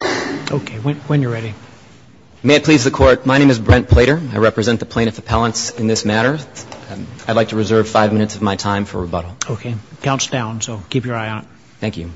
Okay, when you're ready. May it please the Court, my name is Brent Plater. I represent the plaintiff appellants in this matter. I'd like to reserve five minutes of my time for rebuttal. Okay, the count's down, so keep your eye on it. Thank you.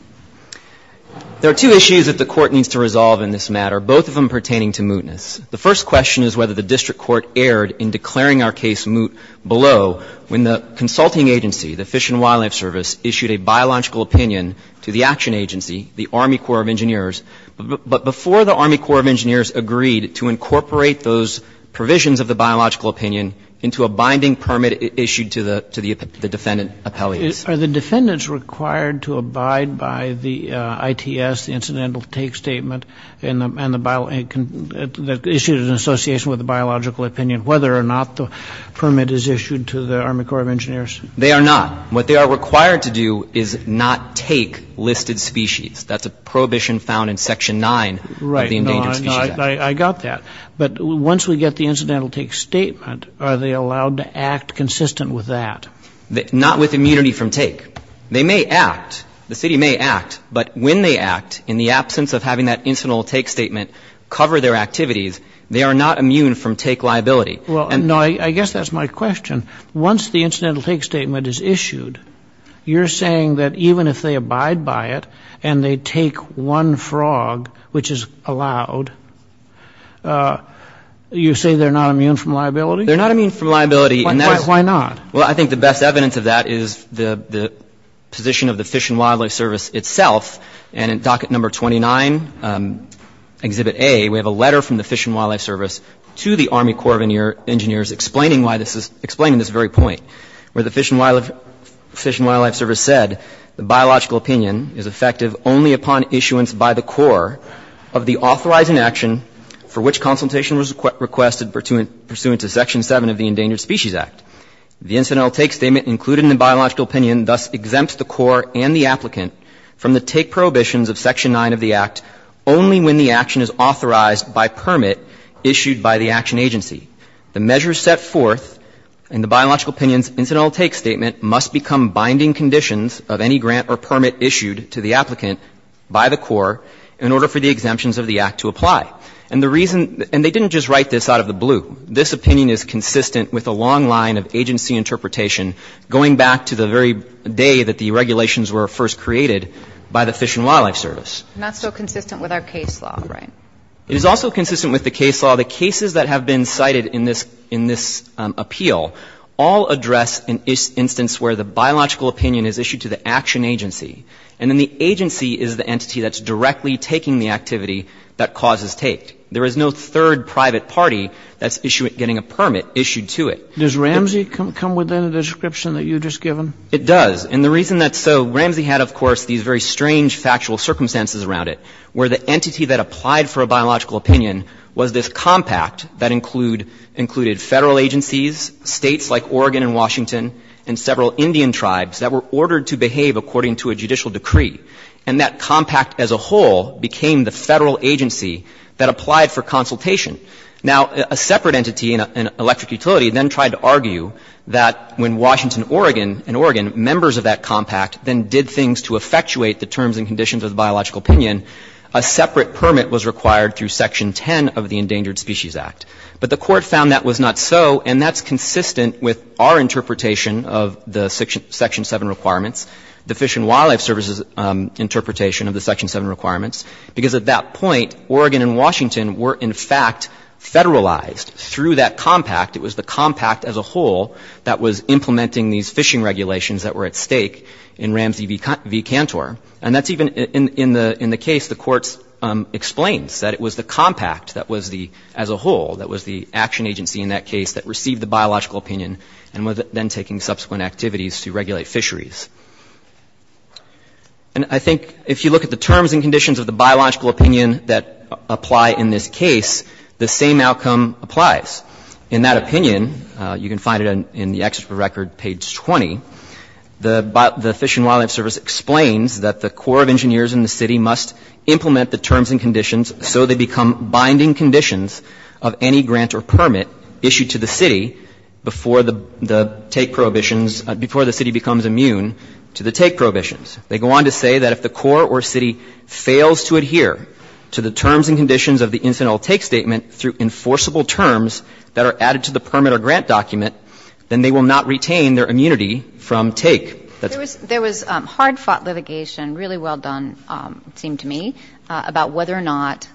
There are two issues that the Court needs to resolve in this matter, both of them pertaining to mootness. The first question is whether the District Court erred in declaring our case moot below when the consulting agency, the Fish and Wildlife Service, issued a biological opinion to the action agency, the Army Corps of Engineers, but before the Army Corps of Engineers agreed to incorporate those provisions of the biological opinion into a binding permit issued to the defendant appellate. Are the defendants required to abide by the ITS, the Incidental Take Statement, and the issued in association with the biological opinion, whether or not the permit is issued to the Army Corps of Engineers? They are not. What they are required to do is not take listed species. That's a prohibition found in Section 9 of the Endangered Species Act. Right. No, I got that. But once we get the Incidental Take Statement, are they allowed to act consistent with that? Not with immunity from take. They may act. The city may act. But when they act, in the absence of having that Incidental Take Statement cover their activities, they are not immune from take liability. Well, no, I guess that's my question. Once the Incidental Take Statement is issued, you're saying that even if they abide by it and they take one frog, which is allowed, you say they're not immune from liability? They're not immune from liability. Why not? Well, I think the best evidence of that is the position of the Fish and Wildlife Service itself. And in Docket Number 29, Exhibit A, we have a letter from the Fish and Wildlife Service to the Army Corps of Engineers explaining this very point, where the Fish and Wildlife Service said the biological opinion is effective only upon issuance by the Corps of the authorizing action for which consultation was requested pursuant to Section 7 of the Endangered Species Act. The Incidental Take Statement included in the biological opinion thus exempts the Corps and the applicant from the take prohibitions of Section 9 of the Act only when the action is authorized by permit issued by the action agency. The measures set forth in the biological opinion's Incidental Take Statement must become binding conditions of any grant or permit issued to the applicant by the Corps in order for the exemptions of the Act to apply. And the reason they didn't just write this out of the blue. This opinion is consistent with a long line of agency interpretation going back to the very day that the regulations were first created by the Fish and Wildlife Service. It's not so consistent with our case law, right? It is also consistent with the case law. The cases that have been cited in this appeal all address an instance where the biological opinion is issued to the action agency, and then the agency is the entity that's directly taking the activity that cause is taked. There is no third private party that's getting a permit issued to it. Does Ramsey come within the description that you've just given? It does. And the reason that's so, Ramsey had, of course, these very strange factual circumstances around it where the entity that applied for a biological opinion was this compact that included Federal agencies, States like Oregon and Washington, and several Indian tribes that were ordered to behave according to a judicial decree. And that compact as a whole became the Federal agency that applied for consultation. Now, a separate entity, an electric utility, then tried to argue that when Washington and Oregon, members of that compact, then did things to effectuate the terms and conditions of the biological opinion, a separate permit was required through Section 10 of the Endangered Species Act. But the Court found that was not so, and that's consistent with our interpretation of the Section 7 requirements, the Fish and Wildlife Service's interpretation of the Section 7 requirements, because at that point, Oregon and Washington were, in fact, Federalized through that compact. It was the compact as a whole that was implementing these fishing regulations that were at stake in Ramsey v. Cantor. And that's even in the case the Court explains, that it was the compact that was the, as a whole, that was the action agency in that case that received the biological opinion and was then taking subsequent activities to regulate fisheries. And I think if you look at the terms and conditions of the biological opinion that apply in this case, the same outcome applies. In that opinion, you can find it in the Exeter record, page 20, the Fish and Wildlife Service explains that the Corps of Engineers in the city must implement the terms and conditions so they become binding conditions of any grant or permit issued to the city before the take prohibitions, before the city becomes immune to the take prohibitions. They go on to say that if the Corps or city fails to adhere to the terms and conditions of the incidental take statement through enforceable terms that are added to the permit or grant document, then they will not retain their immunity from take. There was hard-fought litigation, really well done, it seemed to me, about whether or not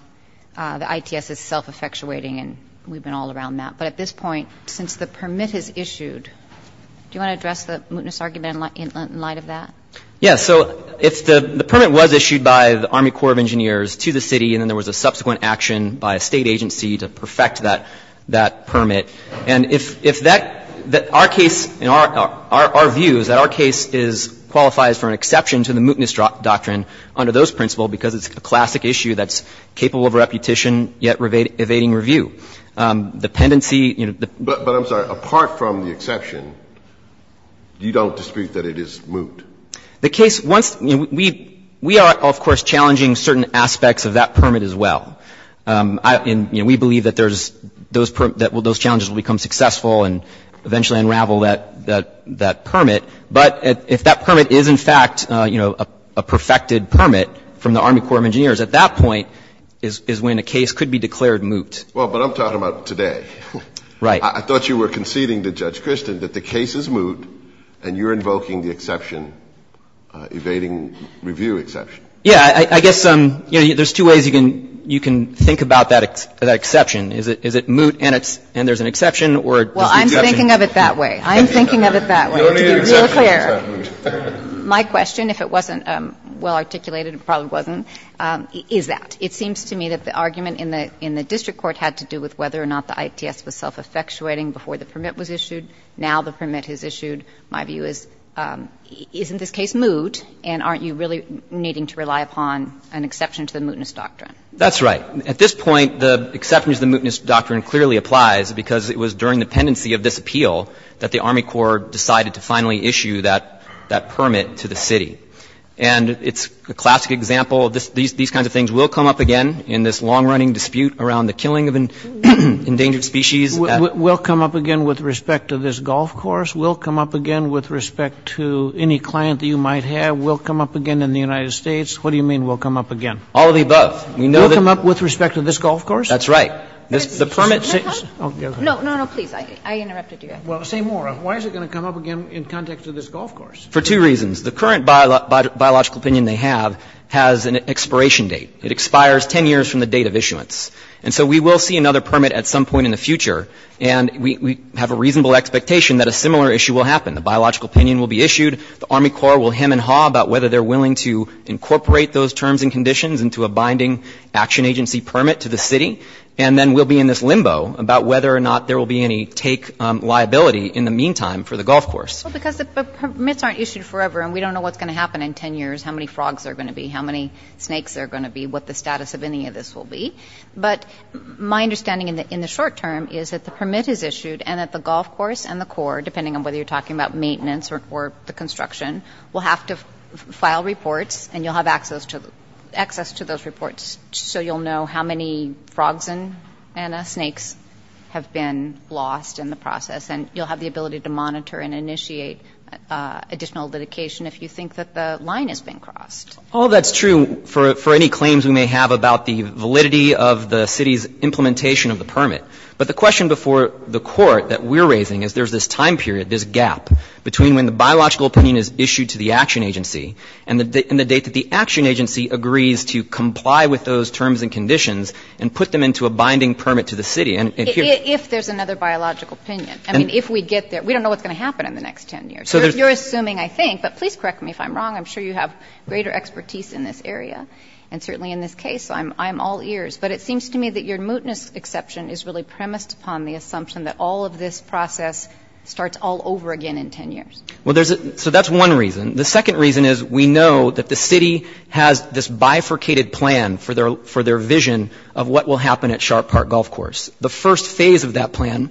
the ITS is self-effectuating, and we've been all around that. But at this point, since the permit is issued, do you want to address the mootness argument in light of that? Yeah. So if the permit was issued by the Army Corps of Engineers to the city and then there was a subsequent action by a State agency to perfect that permit, and if that, our case, our view is that our case qualifies for an exception to the mootness doctrine under those principles because it's a classic issue that's capable of repetition yet evading review. Dependency, you know, the ---- But I'm sorry. Apart from the exception, you don't dispute that it is moot? The case, once, you know, we are, of course, challenging certain aspects of that permit as well. And, you know, we believe that there's those challenges will become successful and eventually unravel that permit. But if that permit is, in fact, you know, a perfected permit from the Army Corps of Engineers, at that point is when a case could be declared moot. Well, but I'm talking about today. Right. I thought you were conceding to Judge Kirsten that the case is moot and you're invoking the exception, evading review exception. Yeah. I guess, you know, there's two ways you can think about that exception. Is it moot and there's an exception or just an exception? Well, I'm thinking of it that way. I'm thinking of it that way. To be real clear. The only exception is not moot. My question, if it wasn't well articulated, it probably wasn't, is that. It seems to me that the argument in the district court had to do with whether or not the ITS was self-effectuating before the permit was issued. Now the permit is issued. My view is isn't this case moot? And aren't you really needing to rely upon an exception to the mootness doctrine? That's right. At this point, the exception to the mootness doctrine clearly applies because it was during the pendency of this appeal that the Army Corps decided to finally issue that permit to the city. And it's a classic example. These kinds of things will come up again in this long-running dispute around the killing of an endangered species. We'll come up again with respect to this golf course. We'll come up again with respect to any client that you might have. We'll come up again in the United States. What do you mean we'll come up again? All of the above. We know that. We'll come up with respect to this golf course? That's right. No, no, no, please. I interrupted you. Well, say more. Why is it going to come up again in context of this golf course? For two reasons. The current biological opinion they have has an expiration date. It expires 10 years from the date of issuance. And so we will see another permit at some point in the future. And we have a reasonable expectation that a similar issue will happen. The biological opinion will be issued. The Army Corps will hem and haw about whether they're willing to incorporate those terms and conditions into a binding action agency permit to the city. And then we'll be in this limbo about whether or not there will be any take liability in the meantime for the golf course. Well, because the permits aren't issued forever, and we don't know what's going to happen in 10 years, how many frogs there are going to be, how many snakes there are going to be, what the status of any of this will be. But my understanding in the short term is that the permit is issued and that the golf course and the Corps, depending on whether you're talking about maintenance or the construction, will have to file reports, and you'll have access to those reports so you'll know how many frogs and snakes have been lost in the process. And you'll have the ability to monitor and initiate additional litigation if you think that the line has been crossed. Well, that's true for any claims we may have about the validity of the city's implementation of the permit. But the question before the Court that we're raising is there's this time period, this gap, between when the biological opinion is issued to the action agency and the date that the action agency agrees to comply with those terms and conditions and put them into a binding permit to the city. If there's another biological opinion. I mean, if we get there. We don't know what's going to happen in the next 10 years. You're assuming, I think, but please correct me if I'm wrong. I'm sure you have greater expertise in this area and certainly in this case. I'm all ears. But it seems to me that your mootness exception is really premised upon the assumption that all of this process starts all over again in 10 years. So that's one reason. The second reason is we know that the city has this bifurcated plan for their vision of what will happen at Sharp Park Golf Course. The first phase of that plan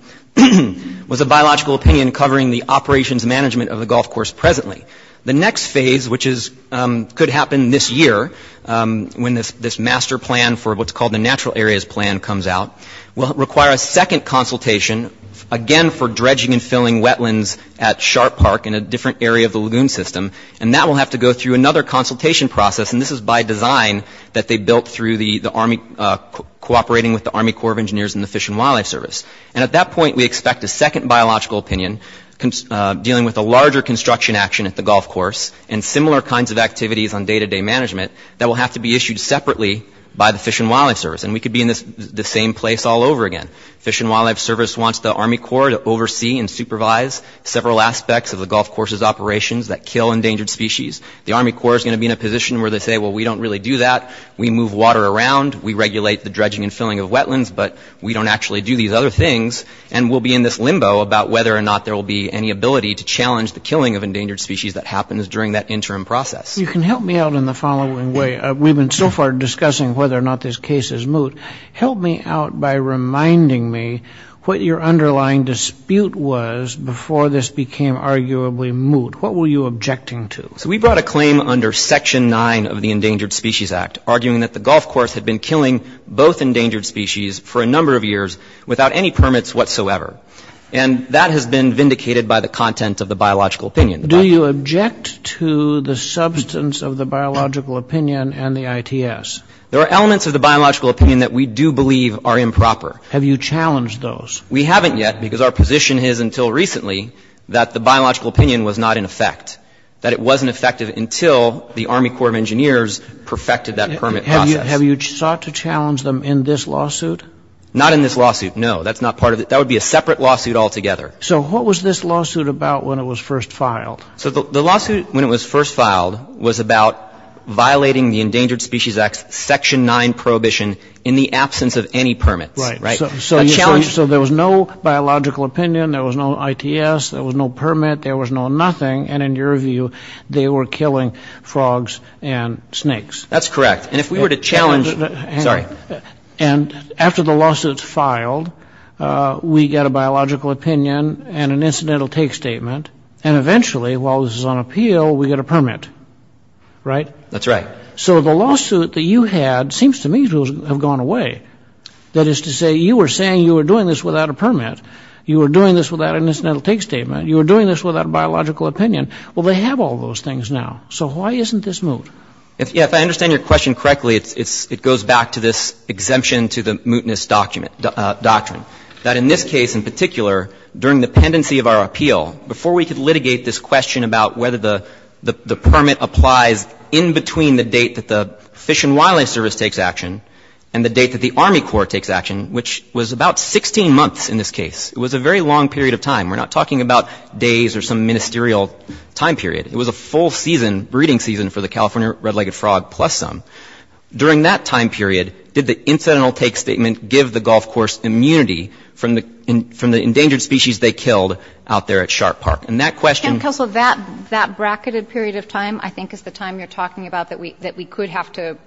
was a biological opinion covering the operations management of the golf course presently. The next phase, which could happen this year when this master plan for what's called the Natural Areas Plan comes out, will require a second consultation, again for dredging and filling wetlands at Sharp Park in a different area of the lagoon system. And that will have to go through another consultation process. And this is by design that they built through the Army, cooperating with the Army Corps of Engineers and the Fish and Wildlife Service. And at that point we expect a second biological opinion, dealing with a larger construction action at the golf course and similar kinds of activities on day-to-day management that will have to be issued separately by the Fish and Wildlife Service. And we could be in the same place all over again. Fish and Wildlife Service wants the Army Corps to oversee and supervise several aspects of the golf course's operations that kill endangered species. The Army Corps is going to be in a position where they say, well, we don't really do that. We move water around. We regulate the dredging and filling of wetlands. But we don't actually do these other things. And we'll be in this limbo about whether or not there will be any ability to challenge the killing of endangered species that happens during that interim process. You can help me out in the following way. We've been so far discussing whether or not this case is moot. Help me out by reminding me what your underlying dispute was before this became arguably moot. What were you objecting to? So we brought a claim under Section 9 of the Endangered Species Act, arguing that the golf course had been killing both endangered species for a number of years without any permits whatsoever. And that has been vindicated by the content of the biological opinion. Do you object to the substance of the biological opinion and the ITS? There are elements of the biological opinion that we do believe are improper. Have you challenged those? We haven't yet because our position is until recently that the biological opinion was not in effect, that it wasn't effective until the Army Corps of Engineers perfected that permit process. Have you sought to challenge them in this lawsuit? Not in this lawsuit, no. That's not part of it. That would be a separate lawsuit altogether. So what was this lawsuit about when it was first filed? So the lawsuit when it was first filed was about violating the Endangered Species Act's Section 9 prohibition in the absence of any permits. Right. So there was no biological opinion. There was no ITS. There was no permit. There was no nothing. And in your view, they were killing frogs and snakes. That's correct. And if we were to challenge, sorry. And after the lawsuit's filed, we get a biological opinion and an incidental take statement. And eventually, while this is on appeal, we get a permit. Right? That's right. So the lawsuit that you had seems to me to have gone away. That is to say, you were saying you were doing this without a permit. You were doing this without an incidental take statement. You were doing this without a biological opinion. Well, they have all those things now. So why isn't this moot? If I understand your question correctly, it goes back to this exemption to the mootness doctrine, that in this case in particular, during the pendency of our appeal, before we could litigate this question about whether the permit applies in between the date that the Fish and Wildlife Service takes action and the date that the Army Corps takes action, which was about 16 months in this case, it was a very long period of time. We're not talking about days or some ministerial time period. It was a full season, breeding season for the California red-legged frog plus some. During that time period, did the incidental take statement give the Gulf Corps immunity from the endangered species they killed out there at Shark Park? And that question — Counsel, that bracketed period of time I think is the time you're talking about that we could have to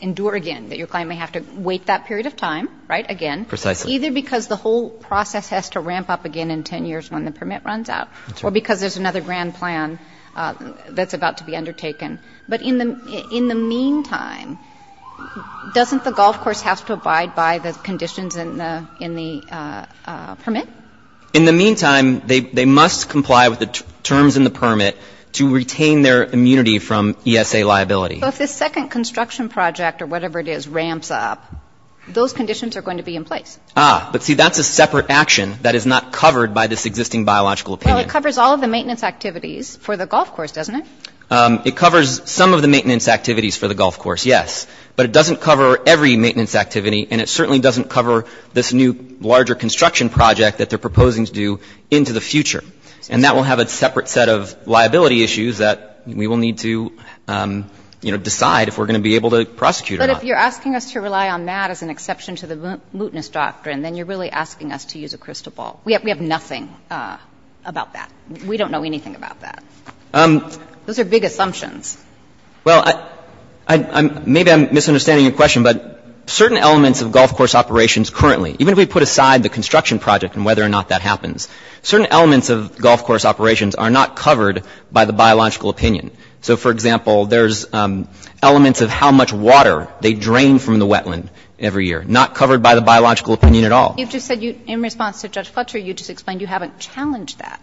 endure again, that your client may have to wait that period of time, right, again. Precisely. Either because the whole process has to ramp up again in 10 years when the permit runs out or because there's another grand plan that's about to be undertaken. But in the meantime, doesn't the Gulf Corps have to abide by the conditions in the permit? In the meantime, they must comply with the terms in the permit to retain their immunity from ESA liability. So if this second construction project or whatever it is ramps up, those conditions are going to be in place. Ah, but see, that's a separate action that is not covered by this existing biological opinion. Well, it covers all of the maintenance activities for the Gulf Corps, doesn't it? It covers some of the maintenance activities for the Gulf Corps, yes. But it doesn't cover every maintenance activity, and it certainly doesn't cover this new larger construction project that they're proposing to do into the future. And that will have a separate set of liability issues that we will need to, you know, But if you're asking us to rely on that as an exception to the mootness doctrine, then you're really asking us to use a crystal ball. We have nothing about that. We don't know anything about that. Those are big assumptions. Well, maybe I'm misunderstanding your question, but certain elements of Gulf Corps operations currently, even if we put aside the construction project and whether or not that happens, certain elements of Gulf Corps operations are not covered by the biological opinion. So, for example, there's elements of how much water they drain from the wetland every year, not covered by the biological opinion at all. You just said you, in response to Judge Fletcher, you just explained you haven't challenged that.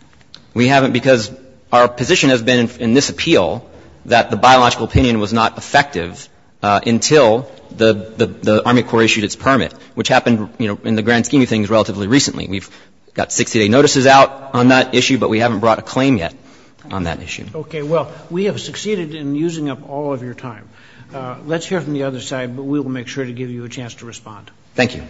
We haven't because our position has been in this appeal that the biological opinion was not effective until the Army Corps issued its permit, which happened, you know, in the grand scheme of things relatively recently. We've got 60-day notices out on that issue, but we haven't brought a claim yet on that issue. Okay. Well, we have succeeded in using up all of your time. Let's hear from the other side, but we will make sure to give you a chance to respond. Thank you.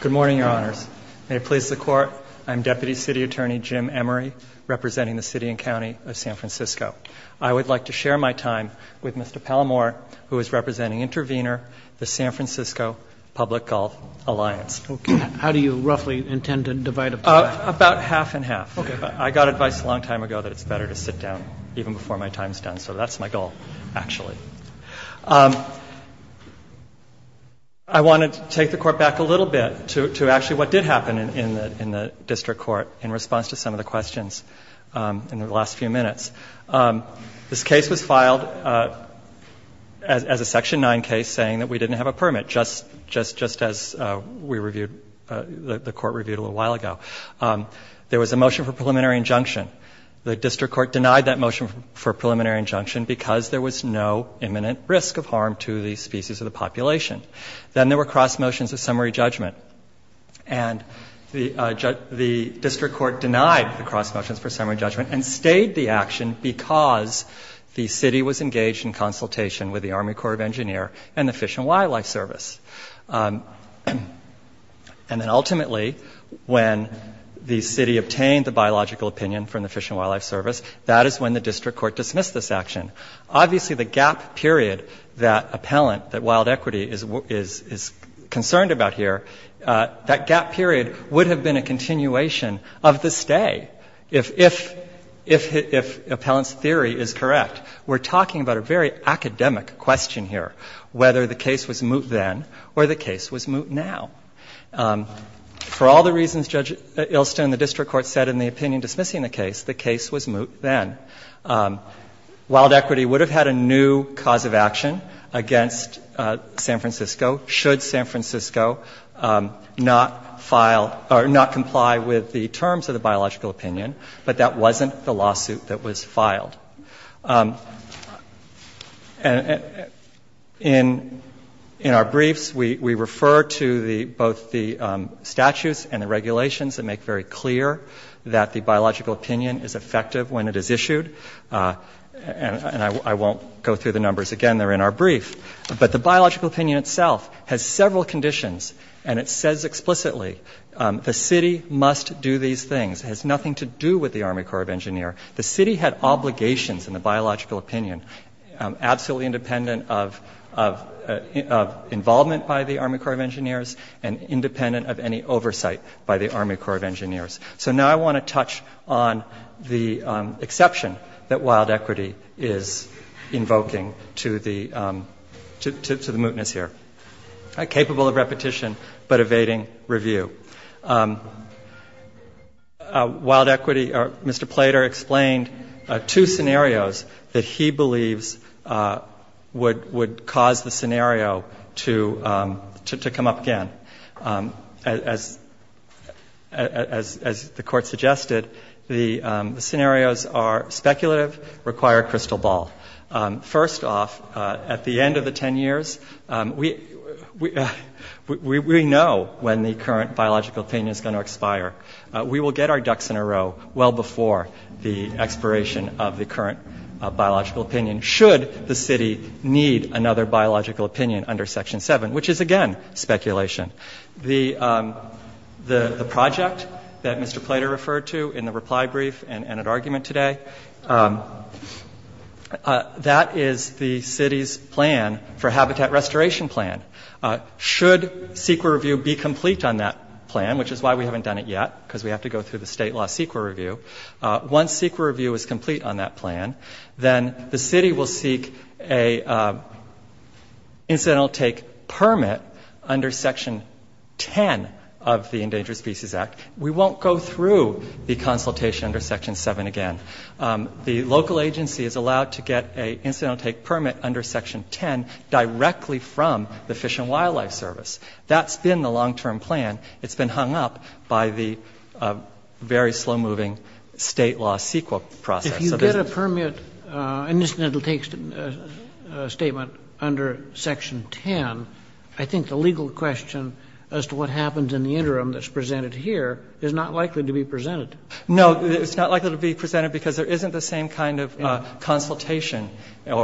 Good morning, Your Honors. May it please the Court, I'm Deputy City Attorney Jim Emery, representing the city and county of San Francisco. I would like to share my time with Mr. Palmore, who is representing Intervenor, the San Francisco Public Golf Alliance. Okay. How do you roughly intend to divide up the time? About half and half. Okay. I got advice a long time ago that it's better to sit down even before my time is done, so that's my goal, actually. I want to take the Court back a little bit to actually what did happen in the district court in response to some of the questions in the last few minutes. This case was filed as a Section 9 case saying that we didn't have a permit, just as we reviewed, the Court reviewed a little while ago. There was a motion for preliminary injunction. The district court denied that motion for preliminary injunction because there was no imminent risk of harm to the species of the population. Then there were cross motions of summary judgment. And the district court denied the cross motions for summary judgment and stayed the action because the city was engaged in consultation with the Army Corps of Engineers and the Fish and Wildlife Service. And then ultimately, when the city obtained the biological opinion from the Fish and Wildlife Service, that is when the district court dismissed this action. Obviously, the gap period that appellant, that wild equity is concerned about here, that gap period would have been a continuation of this day if appellant's theory is correct. We're talking about a very academic question here, whether the case was moot then or the case was moot now. For all the reasons Judge Ilston and the district court said in the opinion dismissing the case, the case was moot then. Wild equity would have had a new cause of action against San Francisco should San Francisco not file or not comply with the terms of the biological opinion, but that wasn't the lawsuit that was filed. In our briefs, we refer to both the statutes and the regulations that make very clear that the biological opinion is effective when it is issued. And I won't go through the numbers again. They're in our brief. But the biological opinion itself has several conditions, and it says explicitly, the city must do these things. It has nothing to do with the Army Corps of Engineers. The city had obligations in the biological opinion, absolutely independent of involvement by the Army Corps of Engineers and independent of any oversight by the Army Corps of Engineers. So now I want to touch on the exception that wild equity is invoking to the mootness here, capable of repetition but evading review. Wild equity, Mr. Plater explained two scenarios that he believes would cause the scenario to come up again. As the Court suggested, the scenarios are speculative, require crystal ball. First off, at the end of the 10 years, we know when the current biological opinion is going to expire. We will get our ducks in a row well before the expiration of the current biological opinion should the city need another biological opinion under Section 7, which is, again, speculation. The project that Mr. Plater referred to in the reply brief and at argument today, that is the city's plan for habitat restoration plan. Should CEQA review be complete on that plan, which is why we haven't done it yet, because we have to go through the state law CEQA review, once CEQA review is complete on that plan, then the city will seek an incidental take permit under Section 10 of the Endangered Species Act. We won't go through the consultation under Section 7 again. The local agency is allowed to get an incidental take permit under Section 10 directly from the Fish and Wildlife Service. That's been the long-term plan. That's been the state law CEQA process. If you get a permit, an incidental take statement under Section 10, I think the legal question as to what happens in the interim that's presented here is not likely to be presented. No, it's not likely to be presented because there isn't the same kind of consultation and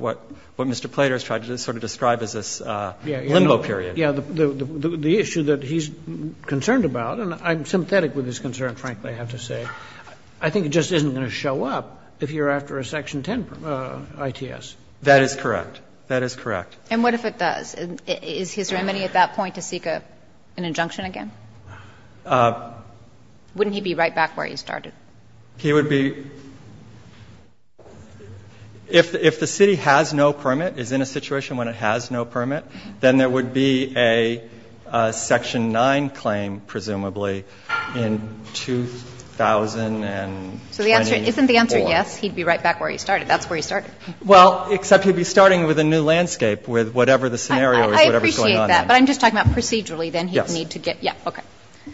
what Mr. Plater has tried to sort of describe as this limbo period. But, yeah, the issue that he's concerned about, and I'm sympathetic with his concern, frankly, I have to say, I think it just isn't going to show up if you're after a Section 10 ITS. That is correct. That is correct. And what if it does? Is his remedy at that point to seek an injunction again? Wouldn't he be right back where he started? He would be — if the city has no permit, is in a situation when it has no permit, then there would be a Section 9 claim, presumably, in 2024. So the answer — isn't the answer yes, he'd be right back where he started? That's where he started. Well, except he'd be starting with a new landscape with whatever the scenario is, whatever's going on there. I appreciate that. But I'm just talking about procedurally. Yes. Then he'd need to get — yeah, okay.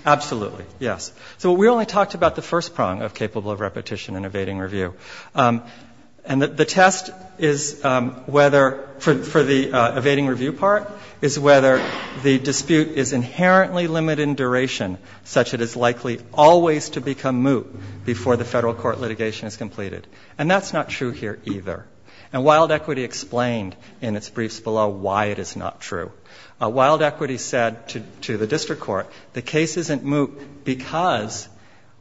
Absolutely, yes. So we only talked about the first prong of capable of repetition and evading review. And the test is whether — for the evading review part is whether the dispute is inherently limited in duration, such it is likely always to become moot before the federal court litigation is completed. And that's not true here either. And Wild Equity explained in its briefs below why it is not true. Wild Equity said to the district court, the case isn't moot because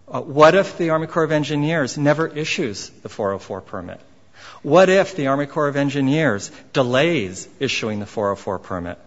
what if the Army Corps of Engineers never issues the 404 permit? What if the Army Corps of Engineers delays issuing the 404 permit?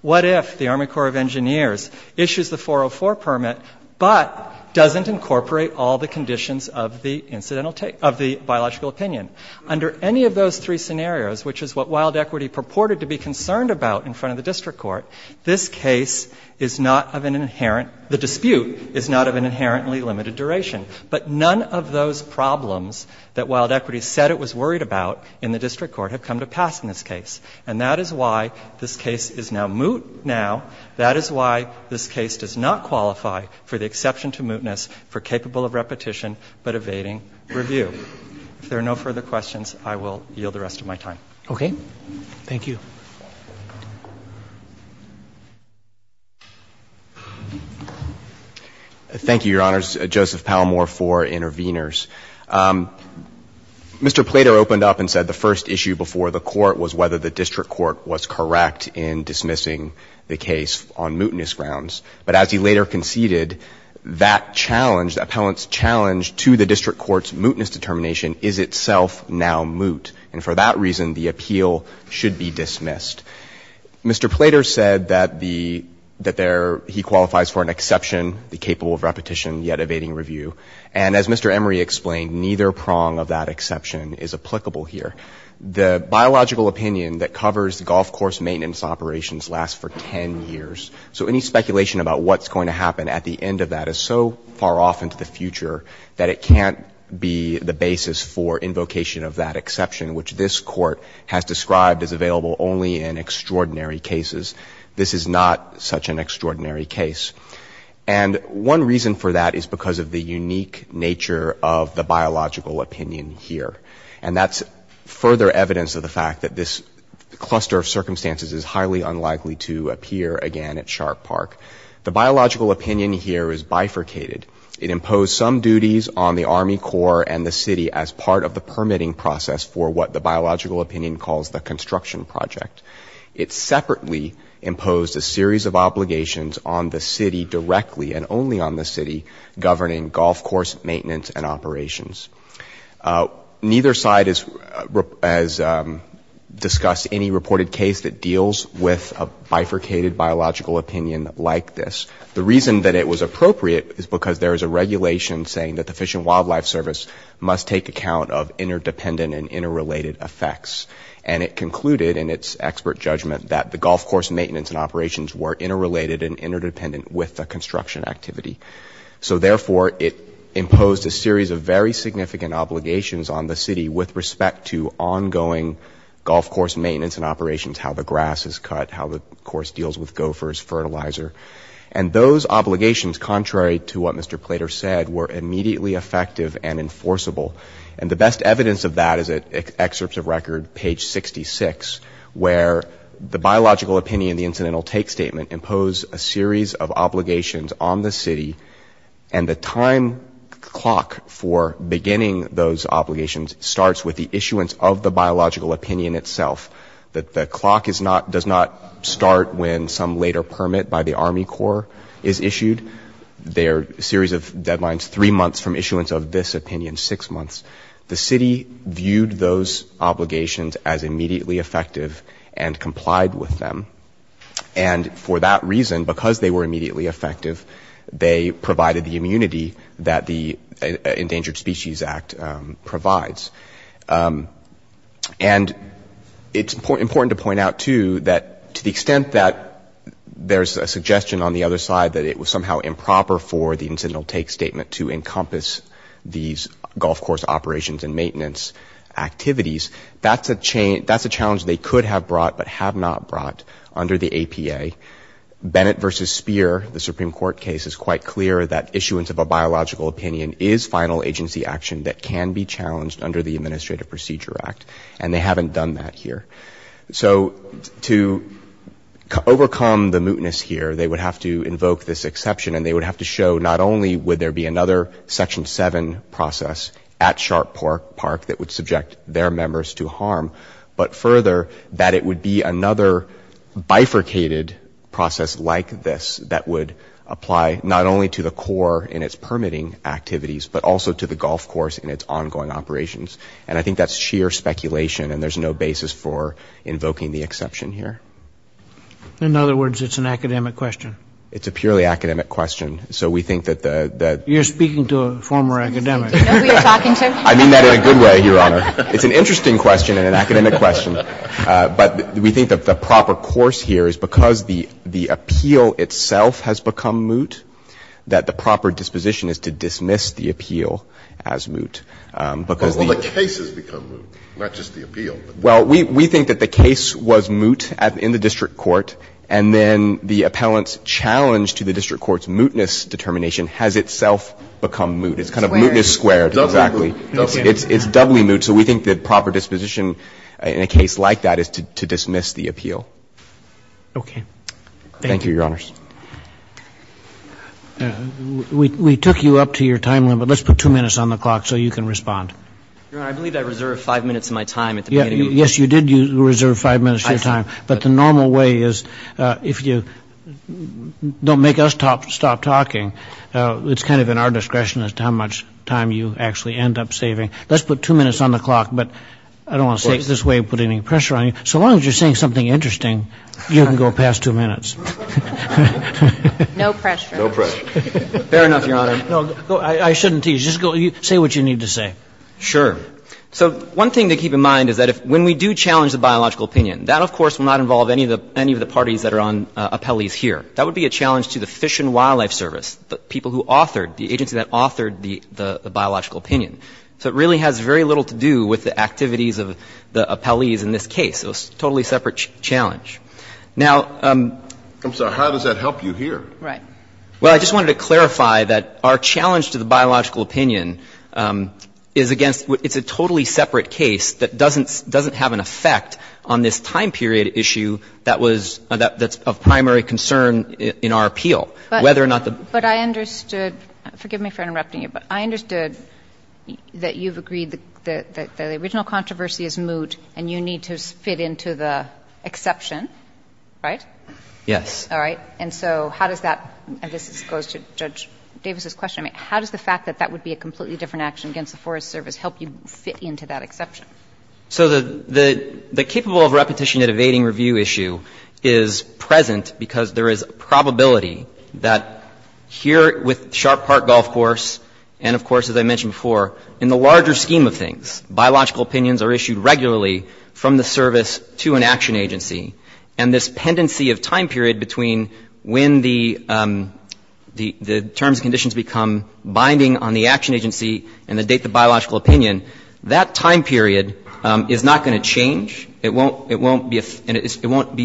What if the Army Corps of Engineers issues the 404 permit, but doesn't incorporate all the conditions of the incidental — of the biological opinion? Under any of those three scenarios, which is what Wild Equity purported to be concerned about in front of the district court, this case is not of an inherent — the dispute is not of an inherently limited duration. But none of those problems that Wild Equity said it was worried about in the district court have come to pass in this case. And that is why this case is now moot now. That is why this case does not qualify for the exception to mootness for capable of repetition but evading review. If there are no further questions, I will yield the rest of my time. Okay. Thank you. Thank you, Your Honors. Joseph Palmore for interveners. Mr. Plater opened up and said the first issue before the court was whether the district court was correct in dismissing the case on mootness grounds. But as he later conceded, that challenge, the appellant's challenge to the district court's mootness determination is itself now moot. And for that reason, the appeal should be dismissed. Mr. Plater said that he qualifies for an exception, the capable of repetition yet evading review. And as Mr. Emory explained, neither prong of that exception is applicable here. The biological opinion that covers golf course maintenance operations lasts for 10 years. So any speculation about what's going to happen at the end of that is so far off into the discussion, which this Court has described as available only in extraordinary cases. This is not such an extraordinary case. And one reason for that is because of the unique nature of the biological opinion here. And that's further evidence of the fact that this cluster of circumstances is highly unlikely to appear again at Sharp Park. The biological opinion here is bifurcated. It imposed some duties on the Army Corps and the city as part of the permitting process for what the biological opinion calls the construction project. It separately imposed a series of obligations on the city directly and only on the city governing golf course maintenance and operations. Neither side has discussed any reported case that deals with a bifurcated biological opinion like this. The reason that it was appropriate is because there is a regulation saying that the Fish and Wildlife Service must take account of interdependent and interrelated effects. And it concluded in its expert judgment that the golf course maintenance and operations were interrelated and interdependent with the construction activity. So therefore, it imposed a series of very significant obligations on the city with respect to ongoing golf course maintenance and operations, how the grass is cut, how the grass is mowed, and those obligations, contrary to what Mr. Plater said, were immediately effective and enforceable. And the best evidence of that is at excerpts of record, page 66, where the biological opinion, the incidental take statement, imposed a series of obligations on the city and the time clock for beginning those obligations starts with the issuance of the biological opinion itself. The clock does not start when some later permit by the Army Corps is issued. They are a series of deadlines, three months from issuance of this opinion, six months. The city viewed those obligations as immediately effective and complied with them. And for that reason, because they were immediately effective, they provided the immunity that the Endangered Species Act provides. And it's important to point out, too, that to the extent that there's a suggestion on the other side that it was somehow improper for the incidental take statement to encompass these golf course operations and maintenance activities, that's a challenge they could have brought but have not brought under the APA. Bennett v. Speer, the Supreme Court case, is quite clear that issuance of a biological opinion is final agency action that can be challenged under the Administrative Procedure Act, and they haven't done that here. So to overcome the mootness here, they would have to invoke this exception, and they would have to show not only would there be another Section 7 process at Sharp Park that would subject their members to harm, but further, that it would be another bifurcated process like this that would apply not only to the core in its permitting activities, but also to the golf course and its ongoing operations. And I think that's sheer speculation, and there's no basis for invoking the exception here. In other words, it's an academic question. It's a purely academic question. So we think that the the You're speaking to a former academic. I mean that in a good way, Your Honor. It's an interesting question and an academic question. But we think that the proper course here is because the appeal itself has become moot, that the proper disposition is to dismiss the appeal as moot, because the Well, the case has become moot, not just the appeal. Well, we think that the case was moot in the district court, and then the appellant's challenge to the district court's mootness determination has itself become moot. It's kind of mootness squared, exactly. It's doubly moot. So we think the proper disposition in a case like that is to dismiss the appeal. Okay. Thank you, Your Honors. We took you up to your time limit. Let's put two minutes on the clock so you can respond. Your Honor, I believe I reserved five minutes of my time at the beginning. Yes, you did reserve five minutes of your time. But the normal way is if you don't make us stop talking, it's kind of in our discretion as to how much time you actually end up saving. Let's put two minutes on the clock, but I don't want to take this way of putting any pressure on you. So long as you're saying something interesting, you can go past two minutes. No pressure. No pressure. Fair enough, Your Honor. I shouldn't tease. Just say what you need to say. Sure. So one thing to keep in mind is that when we do challenge the biological opinion, that, of course, will not involve any of the parties that are on appellees here. That would be a challenge to the Fish and Wildlife Service, the people who authored the agency that authored the biological opinion. So it really has very little to do with the activities of the appellees in this case. It was a totally separate challenge. Now ---- I'm sorry. How does that help you here? Right. Well, I just wanted to clarify that our challenge to the biological opinion is against ---- it's a totally separate case that doesn't have an effect on this time period issue that was of primary concern in our appeal, whether or not the ---- But I understood ---- forgive me for interrupting you, but I understood that you've agreed that the original controversy is moot and you need to fit into the exception, right? Yes. All right. And so how does that ---- and this goes to Judge Davis's question. I mean, how does the fact that that would be a completely different action against the Forest Service help you fit into that exception? here with Sharp Park Golf Course and, of course, as I mentioned before, in the larger scheme of things, biological opinions are issued regularly from the service to an action agency. And this pendency of time period between when the terms and conditions become binding on the action agency and the date of the biological opinion, that time period is not going to change. It won't be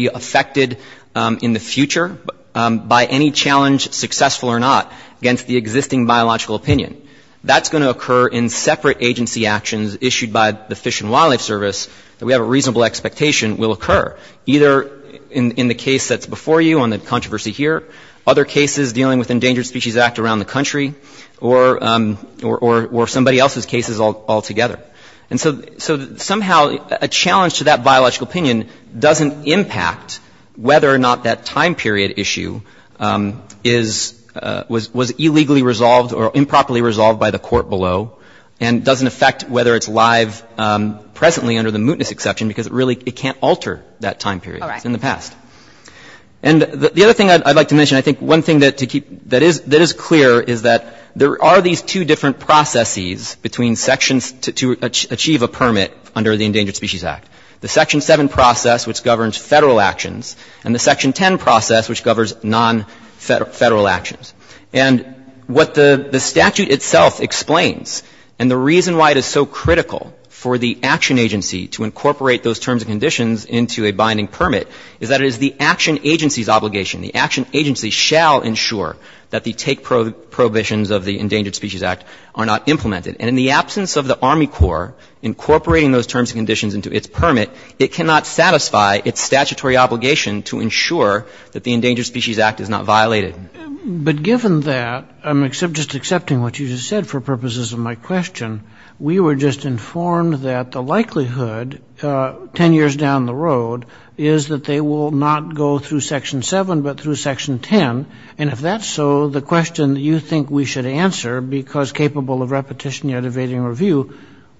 affected in the future by any challenge, successful or not, against the existing biological opinion. That's going to occur in separate agency actions issued by the Fish and Wildlife Service that we have a reasonable expectation will occur, either in the case that's before you on the controversy here, other cases dealing with Endangered Species Act around the country, or somebody else's cases altogether. And so somehow a challenge to that biological opinion doesn't impact whether or not that time period issue is ---- was illegally resolved or improperly resolved by the court below and doesn't affect whether it's live presently under the mootness exception because it really can't alter that time period in the past. And the other thing I'd like to mention, I think one thing that is clear is that there are these two different processes between sections to achieve a permit under the Endangered Species Act. The Section 7 process, which governs Federal actions, and the Section 10 process, which governs non-Federal actions. And what the statute itself explains, and the reason why it is so critical for the action agency to incorporate those terms and conditions into a binding permit, is that it is the action agency's obligation. The action agency shall ensure that the take prohibitions of the Endangered Species Act are not implemented. And in the absence of the Army Corps incorporating those terms and conditions into its permit, it cannot satisfy its statutory obligation to ensure that the Endangered Species Act is not violated. But given that, just accepting what you just said for purposes of my question, we were just informed that the likelihood 10 years down the road is that they will not go through Section 7 but through Section 10. And if that's so, the question that you think we should answer, because capable of repetition yet evading review,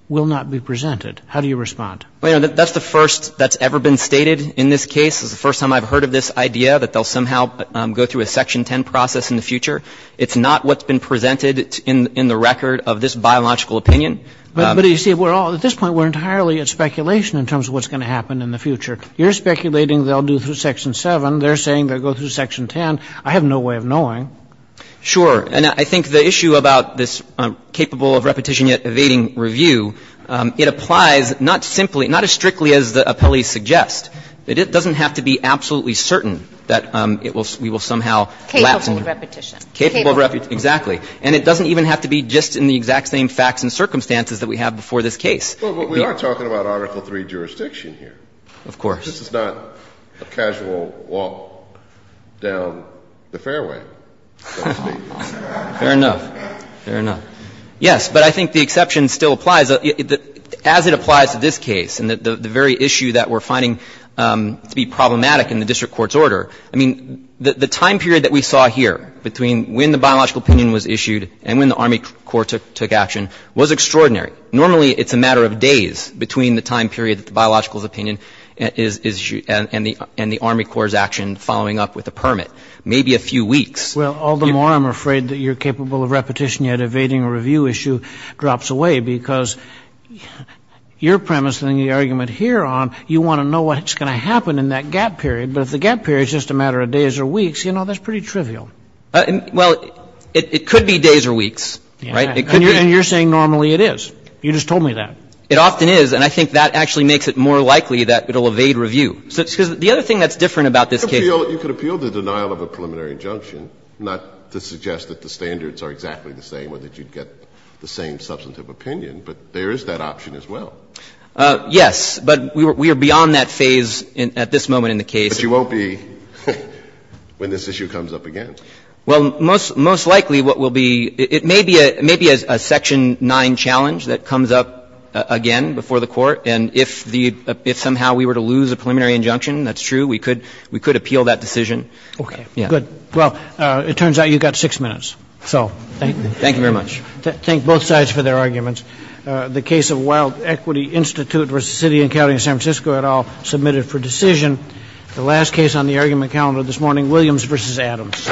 will not be presented. How do you respond? Well, you know, that's the first that's ever been stated in this case. It's the first time I've heard of this idea that they'll somehow go through a Section 10 process in the future. It's not what's been presented in the record of this biological opinion. But you see, at this point we're entirely at speculation in terms of what's going to happen in the future. You're speculating they'll do through Section 7. They're saying they'll go through Section 10. I have no way of knowing. Sure. And I think the issue about this capable of repetition yet evading review, it applies not simply, not as strictly as the appellees suggest, that it doesn't have to be absolutely certain that it will we will somehow lapse over. Capable of repetition. Capable of repetition, exactly. And it doesn't even have to be just in the exact same facts and circumstances that we have before this case. But we are talking about Article III jurisdiction here. Of course. This is not a casual walk down the fairway, so to speak. Fair enough. Fair enough. Yes, but I think the exception still applies. As it applies to this case and the very issue that we're finding to be problematic in the district court's order, I mean, the time period that we saw here between when the biological opinion was issued and when the Army Corps took action was extraordinary. Normally, it's a matter of days between the time period that the biological opinion is issued and the Army Corps' action following up with a permit. Maybe a few weeks. Well, all the more I'm afraid that your capable of repetition yet evading review issue drops away because your premise and the argument here on, you want to know what's going to happen in that gap period. But if the gap period is just a matter of days or weeks, you know, that's pretty Well, it could be days or weeks. Right? And you're saying normally it is. You just told me that. It often is, and I think that actually makes it more likely that it will evade review. Because the other thing that's different about this case You could appeal the denial of a preliminary injunction, not to suggest that the standards are exactly the same or that you'd get the same substantive opinion, but there is that option as well. Yes, but we are beyond that phase at this moment in the case. But you won't be when this issue comes up again. Well, most likely what will be, it may be a section 9 challenge that comes up again before the court. And if somehow we were to lose a preliminary injunction, that's true, we could appeal that decision. Okay. Good. Well, it turns out you've got six minutes. So thank you. Thank you very much. Thank both sides for their arguments. The case of Wild Equity Institute v. City and County of San Francisco et al. submitted for decision. The last case on the argument calendar this morning, Williams v. Adams. Thank you. Thank you. Thank you.